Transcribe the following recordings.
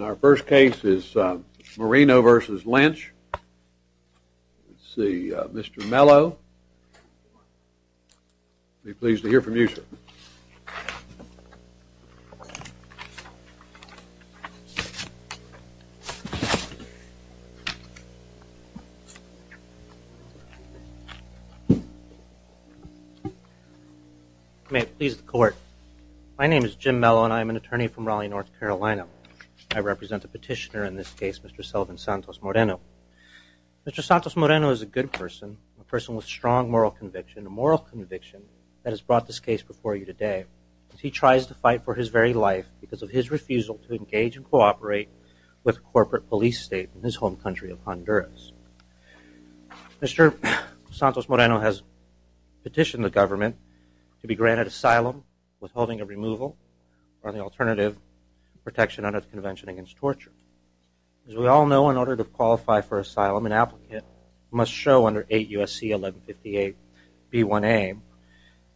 Our first case is Moreno v. Lynch. Let's see, Mr. Mello. I'd be pleased to hear from you, sir. May it please the court. My name is Jim Mello and I'm an attorney from Raleigh, North Carolina. I represent the petitioner in this case, Mr. Sullivan Santos Moreno. Mr. Santos Moreno is a good person, a person with strong moral conviction, a moral conviction that has brought this case before you today. He tries to fight for his very life because of his refusal to engage and cooperate with a corporate police state in his home country of Honduras. Mr. Santos Moreno has petitioned the government to be granted asylum, withholding a removal, or the alternative, protection under the Convention Against Torture. As we all know, in order to qualify for asylum, an applicant must show under 8 U.S.C. 1158 B1A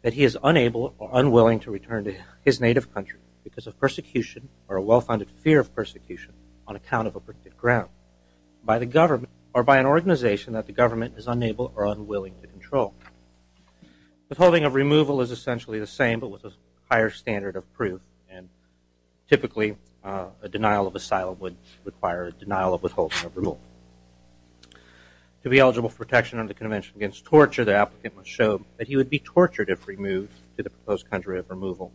that he is unable or unwilling to return to his native country because of persecution or a well-founded fear of persecution on account of a bricked ground by the government or by an organization that the government is unable or unwilling to control. Withholding of removal is essentially the same but with a higher standard of proof and typically a denial of asylum would require a denial of withholding of removal. To be eligible for protection under the Convention Against Torture, the applicant must show that he would be tortured if removed to the proposed country of removal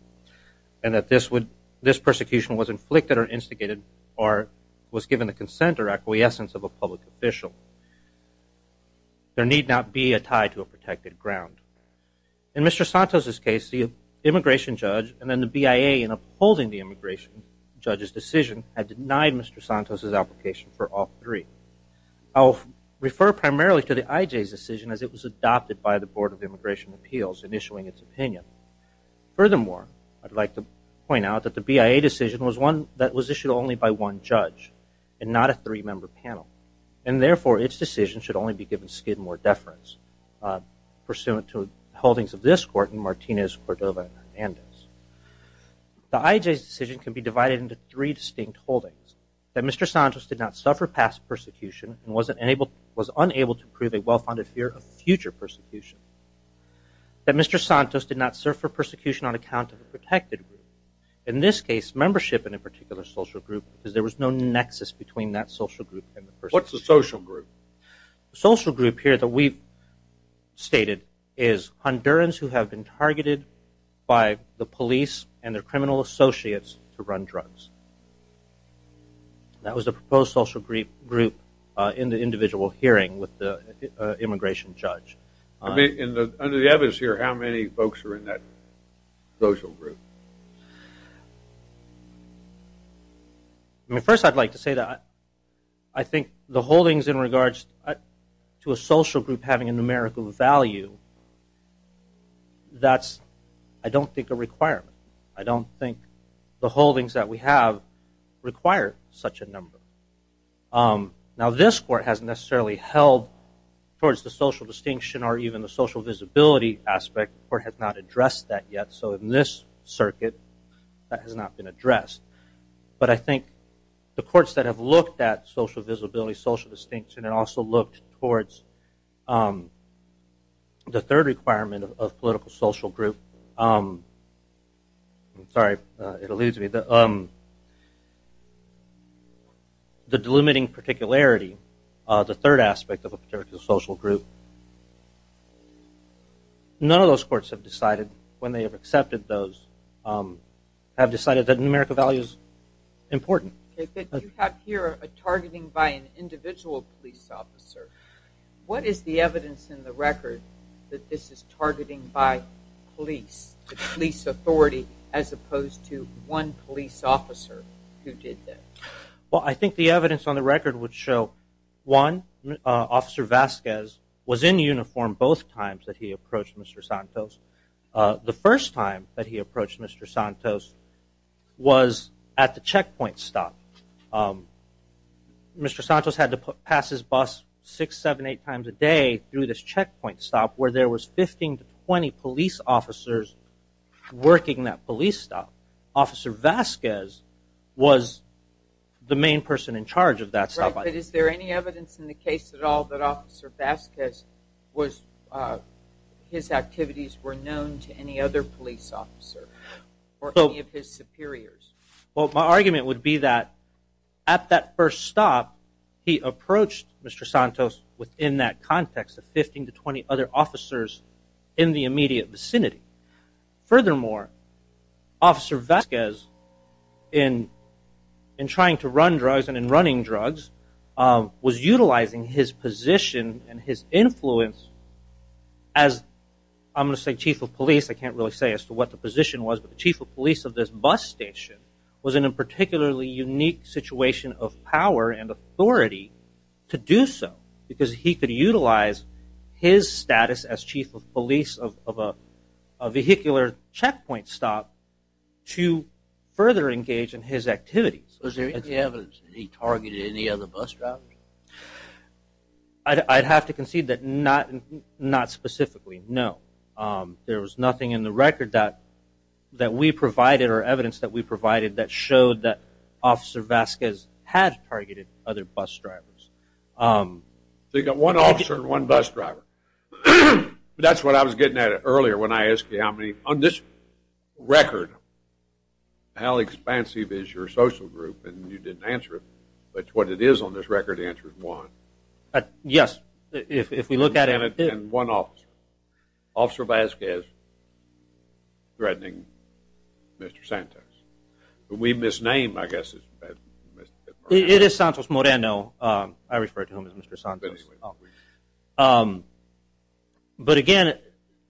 and that this persecution was inflicted or instigated or was given the consent or acquiescence of a public official. There need not be a tie to a protected ground. In Mr. Santos' case, the immigration judge and then the BIA in upholding the immigration judge's decision had denied Mr. Santos' application for all three. I'll refer primarily to the IJ's decision as it was adopted by the Board of Immigration Appeals in issuing its opinion. Furthermore, I'd like to point out that the BIA decision was one that was issued only by one judge and not a three-member panel and therefore its decision should only be given skid more deference pursuant to holdings of this court in Martinez, Cordova, and Hernandez. The IJ's decision can be divided into three distinct holdings. That Mr. Santos did not suffer past persecution and was unable to prove a well-founded fear of future persecution. That Mr. Santos did not serve for persecution on account of a protected group. In this case, membership in a particular social group because there was no social group. The social group here that we've stated is Hondurans who have been targeted by the police and their criminal associates to run drugs. That was the proposed social group in the individual hearing with the immigration judge. Under the evidence here, how many folks are in that social group? I mean, first I'd like to say that I think the holdings in regards to a social group having a numerical value, that's I don't think a requirement. I don't think the holdings that we have require such a number. Now this court hasn't necessarily held towards the social distinction or even the circuit. That has not been addressed. But I think the courts that have looked at social visibility, social distinction, and also looked towards the third requirement of political social group. Sorry, it eludes me. The delimiting particularity, the third aspect of a particular social group. None of those courts have decided, when they have accepted those, have decided that numerical value is important. You have here a targeting by an individual police officer. What is the evidence in the record that this is targeting by police, the police authority as opposed to one police officer who did that? Well, I think the evidence on the record would show one, Officer Vasquez was in uniform both times that he approached Mr. Santos. The first time that he approached Mr. Santos was at the checkpoint stop. Mr. Santos had to pass his bus six, seven, eight times a day through this checkpoint stop where there was 15 to 20 police officers working that police stop. Officer Vasquez was the main person in charge of that stop. Right, but is there any evidence in the case at all that Officer Vasquez was, his activities were known to any other police officer or any of his superiors? Well, my argument would be that at that first stop, he approached Mr. Santos within that context of 15 to 20 other officers in the immediate vicinity. Furthermore, Officer Vasquez in trying to run drugs and in running drugs was utilizing his position and his influence as, I'm going to say chief of police, I can't really say as to what the position was, but the chief of police of this bus station was in a particularly unique situation of power and authority to do so because he could utilize his status as chief of police of a vehicular checkpoint stop to further engage in his activities. Was there evidence that he targeted any other bus drivers? I'd have to concede that not specifically, no. There was nothing in the record that we provided or evidence that we provided that showed that Officer Vasquez had targeted other bus drivers. So you got one officer and one bus driver. That's what I was getting at earlier when I asked you on this record how expansive is your social group and you didn't answer it, but what it is on this record answer is one. Yes, if we look at it. And one officer, Officer Vasquez threatening Mr. Santos. We misnamed, I guess. It is Santos Moreno. I refer to him as Mr. Santos. But again,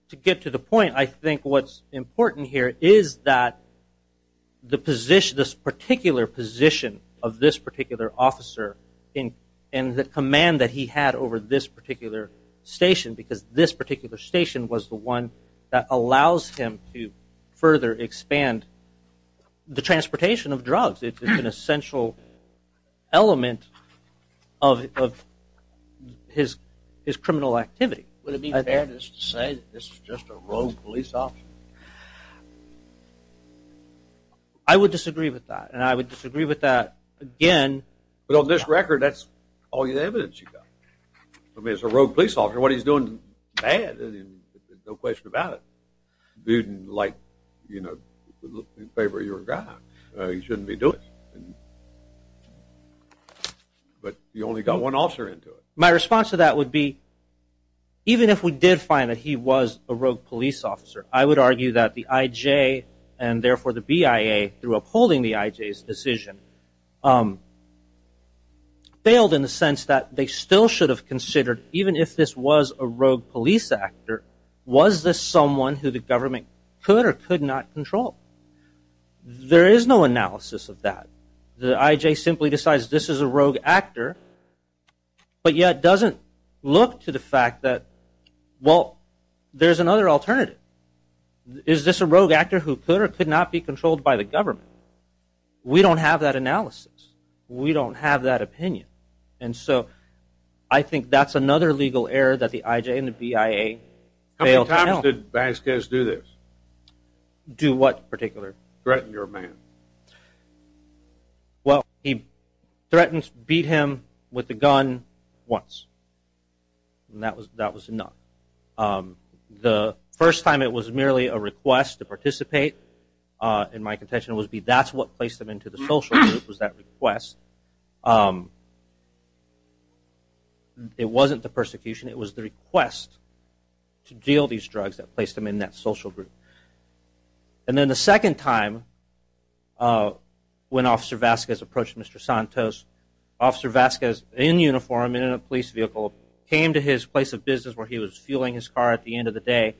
to get to the point, I think what's important here is that this particular position of this particular officer and the command that he had over this particular station because this particular station was the one that allows him to further expand the transportation of drugs. It's an essential element of his criminal activity. Would it be fair to say this is just a rogue police officer? I would disagree with that and I would disagree with that again. But on this record, that's all the evidence you got. I mean, it's a rogue police officer. What he's doing is bad. No question about it. But you only got one officer into it. My response to that would be even if we did find that he was a rogue police officer, I would argue that the IJ and therefore the BIA through upholding the IJ's decision failed in the sense that they still should have considered even if this was a who the government could or could not control. There is no analysis of that. The IJ simply decides this is a rogue actor, but yet doesn't look to the fact that, well, there's another alternative. Is this a rogue actor who could or could not be controlled by the government? We don't have that analysis. We don't have that opinion. And so I think that's another legal error that the IJ and the BIA failed to tell. How many times did Vasquez do this? Do what in particular? Threaten your man. Well, he threatened to beat him with the gun once. And that was enough. The first time it was merely a request to participate, in my contention, would be that's what placed him into the social group was that request. It wasn't the persecution. It was the request to deal these drugs that placed him in that social group. And then the second time when Officer Vasquez approached Mr. Santos, Officer Vasquez in uniform, in a police vehicle, came to his place of business where he was fueling his car at the end of the day.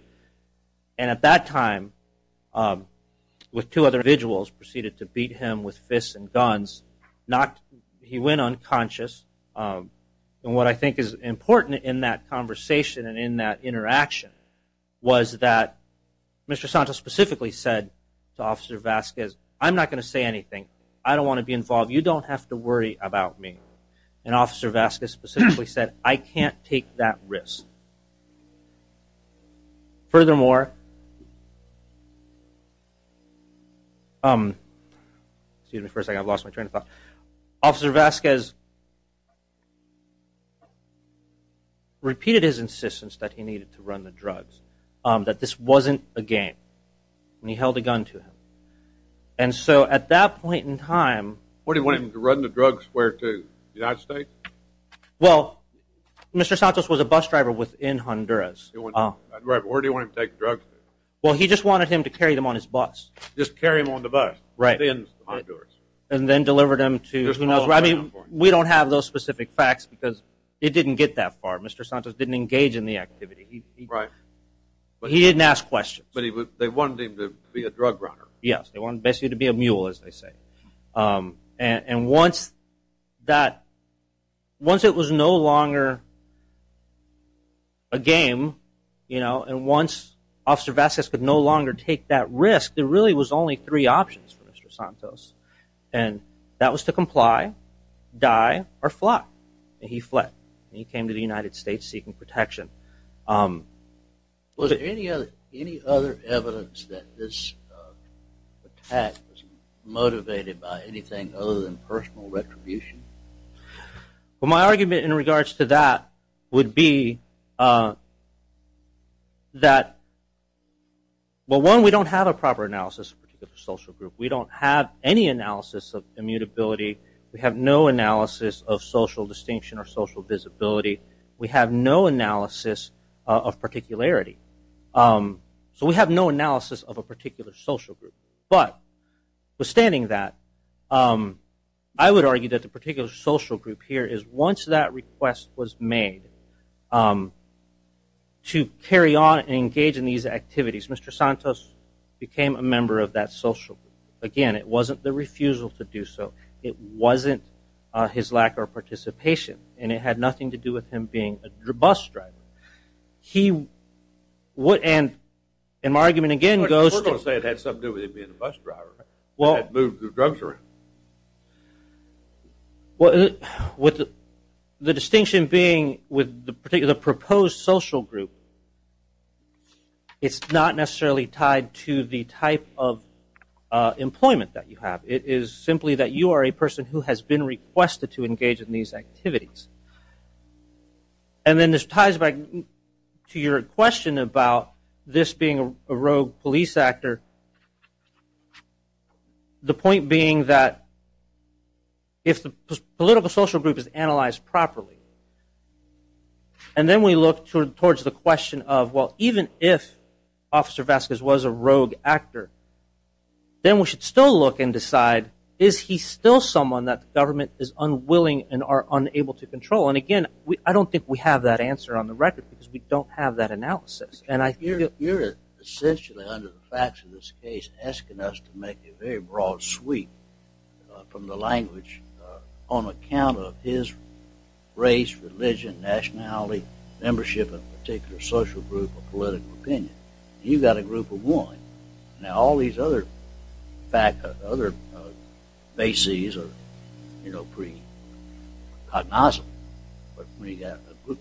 And at that time, with two other individuals, proceeded to beat him with fists and he went unconscious. And what I think is important in that conversation and in that interaction was that Mr. Santos specifically said to Officer Vasquez, I'm not going to say anything. I don't want to be involved. You don't have to worry about me. And Officer Vasquez specifically said, I can't take that risk. Furthermore, excuse me for a second. I've lost my train of thought. Officer Vasquez repeated his insistence that he needed to run the drugs. That this wasn't a game. And he held a gun to him. And so at that point in time. What do you want him to run the drugs where to? The United States? Well, Mr. Santos was a bus driver within Honduras. Where do you want him to take drugs? Well, he just wanted him to carry them on his bus. Just carry them on the bus? Right. And then deliver them to who knows where. I mean, we don't have those specific facts because it didn't get that far. Mr. Santos didn't engage in the activity. Right. But he didn't ask questions. But they wanted him to be a drug runner. Yes. They wanted basically to be a mule, as they say. And once that, once it was no longer a game, and once Officer Vasquez could no longer take that risk, there really was only three options for Mr. Santos. And that was to comply, die, or fly. And he fled. He came to the United States seeking protection. Was there any other evidence that this attack was motivated by anything other than personal retribution? Well, my argument in regards to that would be that, well, one, we don't have a proper analysis of a particular social group. We don't have any analysis of immutability. We have no analysis of social distinction or social visibility. We have no analysis of particularity. So we have no analysis of a particular social group. But withstanding that, I would argue that the particular social group here is, once that request was made, to carry on and engage in these activities, Mr. Santos became a member of that social group. Again, it wasn't the refusal to do so. It wasn't his lack of participation. And it had nothing to do with him being a bus driver. He would, and my argument again goes to... We're going to say it had something to do with him being a bus driver. Well, with the distinction being with the particular proposed social group, it's not necessarily tied to the type of employment that you have. It is simply that you are a person who has been requested to engage in these activities. And then this ties back to your question about this being a rogue police actor. The point being that if the political social group is analyzed properly, and then we look towards the question of, well, even if Officer Vasquez was a rogue actor, then we should still look and decide, is he still someone that the government is unwilling and are unable to control? And again, I don't think we have that answer on the record because we don't have that analysis. You're essentially, under the facts of this case, asking us to make a very broad sweep from the language on account of his race, religion, nationality, membership in a particular social group or political opinion. You've got a group of women. Now, all these other bases are, you know, pre-cognoscent. But when you've got a group,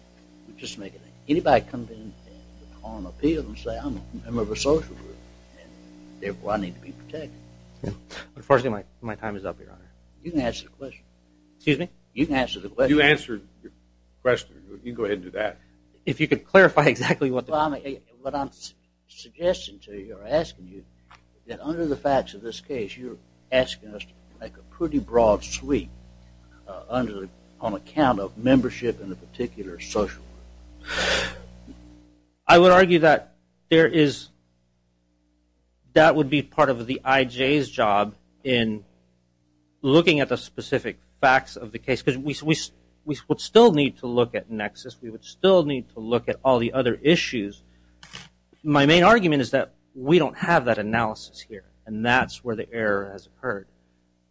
just make a name. Anybody come in and call an appeal and say, I'm a member of a social group and therefore I need to be protected. Unfortunately, my time is up, Your Honor. You can answer the question. Excuse me? You can answer the question. You answered your question. You can go ahead and do that. If you could clarify exactly what the... Well, what I'm suggesting to you or asking you that under the facts of this case, you're asking us to make a pretty broad sweep on account of membership in a particular social group. I would argue that there is... That would be part of the IJ's job in looking at the specific facts of the case because we would still need to look at nexus. We would still need to look at all the other issues. My main argument is that we don't have that analysis here and that's where the error has occurred.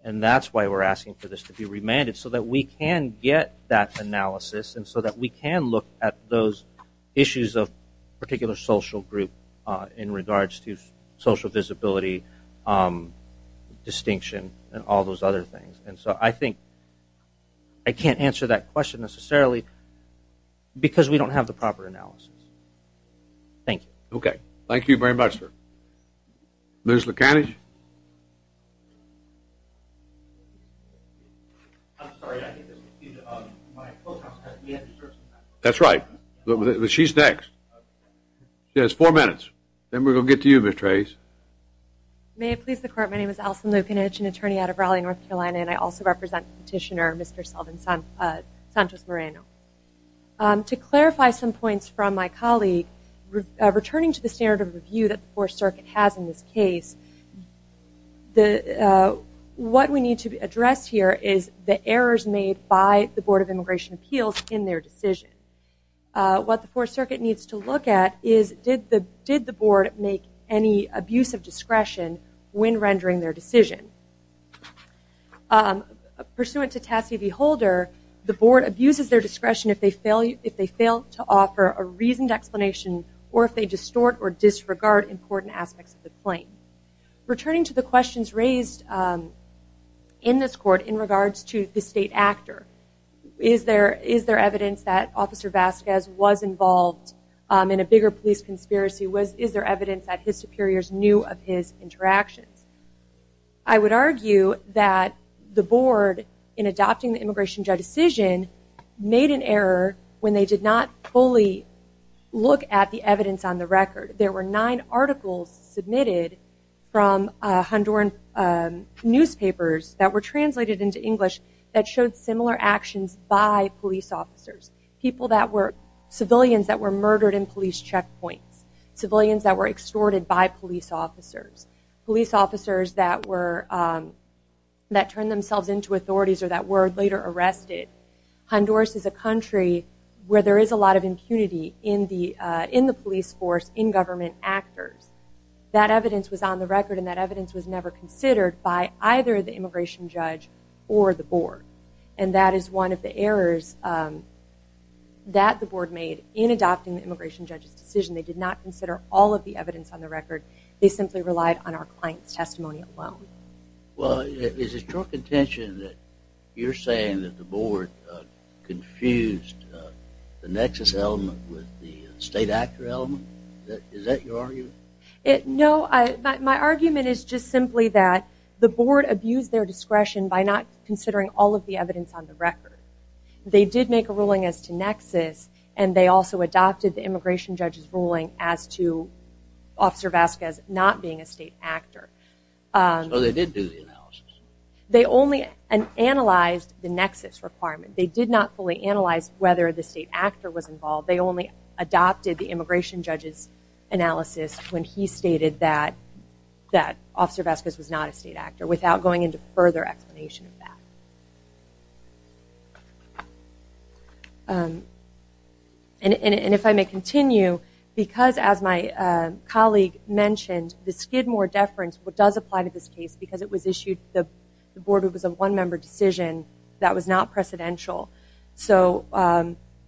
And that's why we're asking for this to be remanded so that we can get that analysis and so that we can look at those issues of particular social group in regards to social visibility, distinction, and all those other things. And so I think I can't answer that question. Thank you. Okay. Thank you very much, sir. Ms. Lukanich? That's right. She's next. She has four minutes. Then we're going to get to you, Ms. Tracz. May it please the court. My name is Alison Lukanich, an attorney out of Raleigh, North Carolina, and I also represent petitioner Mr. Sullivan Santos Moreno. To clarify some points from my colleague, returning to the standard of review that the Fourth Circuit has in this case, what we need to address here is the errors made by the Board of Immigration Appeals in their decision. What the Fourth Circuit needs to look at is did the board make any abuse of discretion when rendering their decision? Pursuant to Tassie v. Holder, the board abuses their discretion if they fail to offer a reasoned explanation or if they distort or disregard important aspects of the claim. Returning to the questions raised in this court in regards to the state actor, is there evidence that Officer Vasquez was involved in a bigger police conspiracy? Is there evidence that his superiors knew of his interactions? I would argue that the board, in adopting the immigration judge decision, made an error when they did not fully look at the evidence on the record. There were nine articles submitted from Honduran newspapers that were translated into English that showed similar actions by police officers. People that were civilians that were murdered in police checkpoints. Civilians that were extorted by police officers. Police officers that turned themselves into authorities or that were later arrested. Honduras is a country where there is a lot of impunity in the police force, in government actors. That evidence was on the record and that evidence was never considered by either the immigration judge or the board. And that is one of the errors that the board made in adopting the evidence on the record. They simply relied on our client's testimony alone. Well, is it strong contention that you're saying that the board confused the nexus element with the state actor element? Is that your argument? No, my argument is just simply that the board abused their discretion by not considering all of the evidence on the record. They did make a ruling as to nexus and they also adopted the immigration judge's ruling as to officer Vasquez not being a state actor. So they did do the analysis? They only analyzed the nexus requirement. They did not fully analyze whether the state actor was involved. They only adopted the immigration judge's analysis when he stated that officer Vasquez was not a state actor without going into further explanation of that. And if I may continue, because as my colleague mentioned, the Skidmore deference does apply to this case because it was issued, the board, it was a one-member decision that was not precedential. So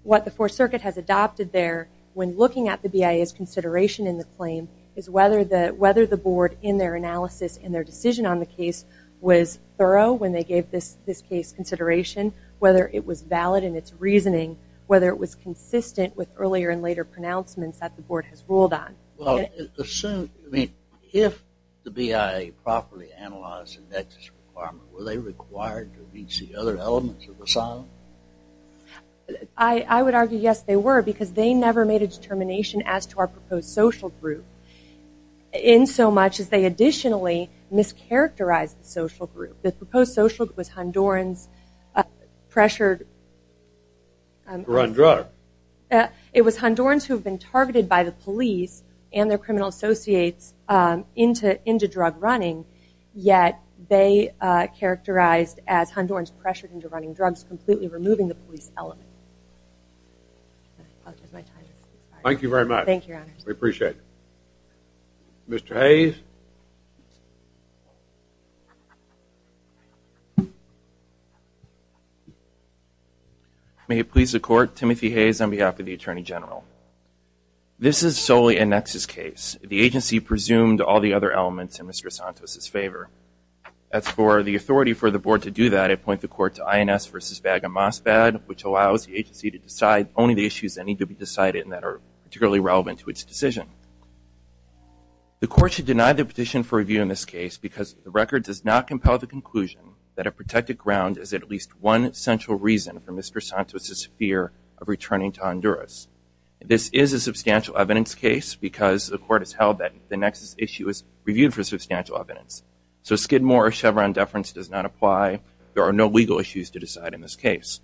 what the Fourth Circuit has adopted there when looking at the BIA's consideration in the claim is whether the board in their analysis and their decision on the case was thorough when they gave this case consideration, whether it was valid in its reasoning, whether it was consistent with earlier and later pronouncements that the board has ruled on. Well, if the BIA properly analyzed the nexus requirement, were they required to reach the other elements of asylum? I would argue yes, they were because they never made a determination as to our proposed social group in so much as they additionally mischaracterized the social group. The proposed social group was Hondurans pressured to run drugs. It was Hondurans who have been targeted by the police and their criminal associates into drug running, yet they characterized as Hondurans pressured into running drugs, completely removing the police element. Thank you very much. We appreciate it. Mr. Hayes. May it please the court, Timothy Hayes on behalf of the Attorney General. This is solely a nexus case. The agency presumed all the other elements in Mr. Santos's favor. As for the authority for the board to do that, I point the court to INS versus VAG and MOSFAD, which allows the agency to decide only the issues that need to be decided and that are particularly relevant to its decision. The court should deny the petition for review in this case because the record does not compel the conclusion that a protected ground is at least one central reason for Mr. Santos's fear of returning to Honduras. This is a substantial evidence case because the court has held that the Chevron deference does not apply. There are no legal issues to decide in this case.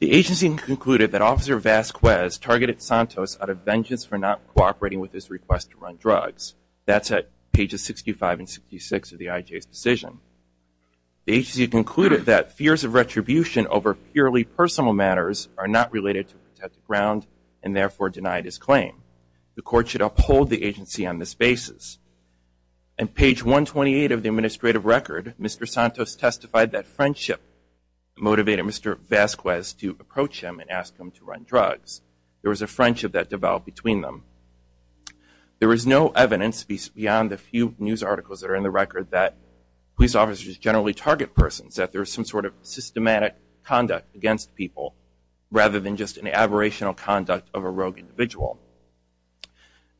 The agency concluded that Officer Vasquez targeted Santos out of vengeance for not cooperating with his request to run drugs. That's at pages 65 and 66 of the IJ's decision. The agency concluded that fears of retribution over purely personal matters are not related to a protected ground and therefore denied his claim. The court should uphold the agency on this basis. On page 128 of the administrative record, Mr. Santos testified that friendship motivated Mr. Vasquez to approach him and ask him to run drugs. There was a friendship that developed between them. There is no evidence beyond the few news articles that are in the record that police officers generally target persons, that there is some sort of systematic conduct against people rather than just an aberrational conduct of a rogue individual.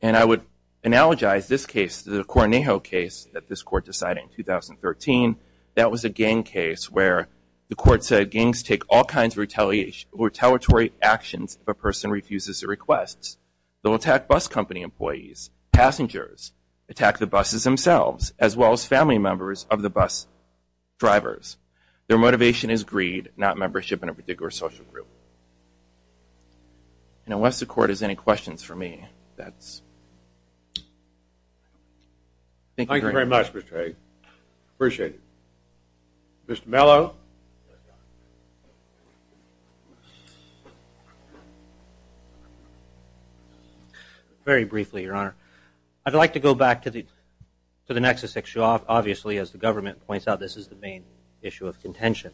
And I would analogize this case to the Cornejo case that this court decided in 2013. That was a gang case where the court said gangs take all kinds of retaliatory actions if a person refuses their requests. They'll attack bus company employees, passengers, attack the buses themselves as well as family members of the bus drivers. Their motivation is greed, not membership in a particular social group. And unless the court has any questions for me, that's... Thank you very much, Mr. Hague. Appreciate it. Mr. Mello? Very briefly, your honor. I'd like to go back to the nexus issue. Obviously, as the government points out, this is the main issue of contention.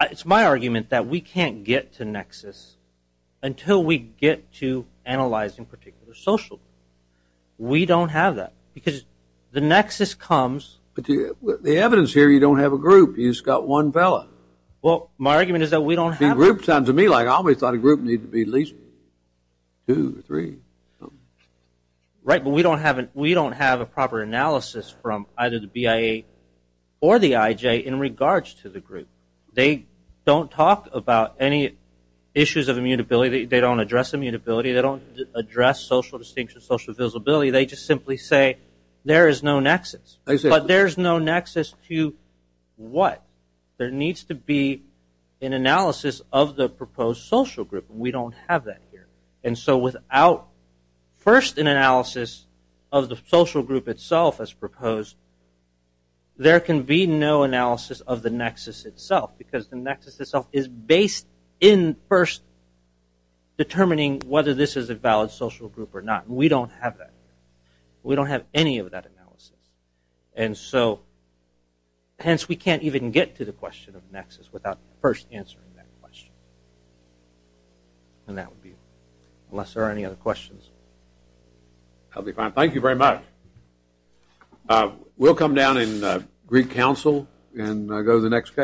It's my argument that we can't get to nexus until we get to analyzing particular social groups. We don't have that because the nexus comes... But the evidence here, you don't have a group. You just got one fella. Well, my argument is that we don't have... A group sounds to me like I always thought a group needed to be at least two or three. Right, but we don't have a proper analysis from either the BIA or the IJ in regards to the group. They don't talk about any issues of immutability. They don't address immutability. They don't address social distinction, social visibility. They just simply say, there is no nexus. But there's no nexus to what? There needs to be an analysis of the proposed social group. We don't have that here. And so without first an analysis of the social group itself as proposed, there can be no analysis of the nexus itself because the nexus itself is based in first determining whether this is a valid social group or not. We don't have that. We don't have any of that analysis. And so, hence, we can't even get to the question of nexus without first answering that question. And that would be, unless there are any other questions. I'll be fine. Thank you very much. We'll come down in Greek council and go to the next case.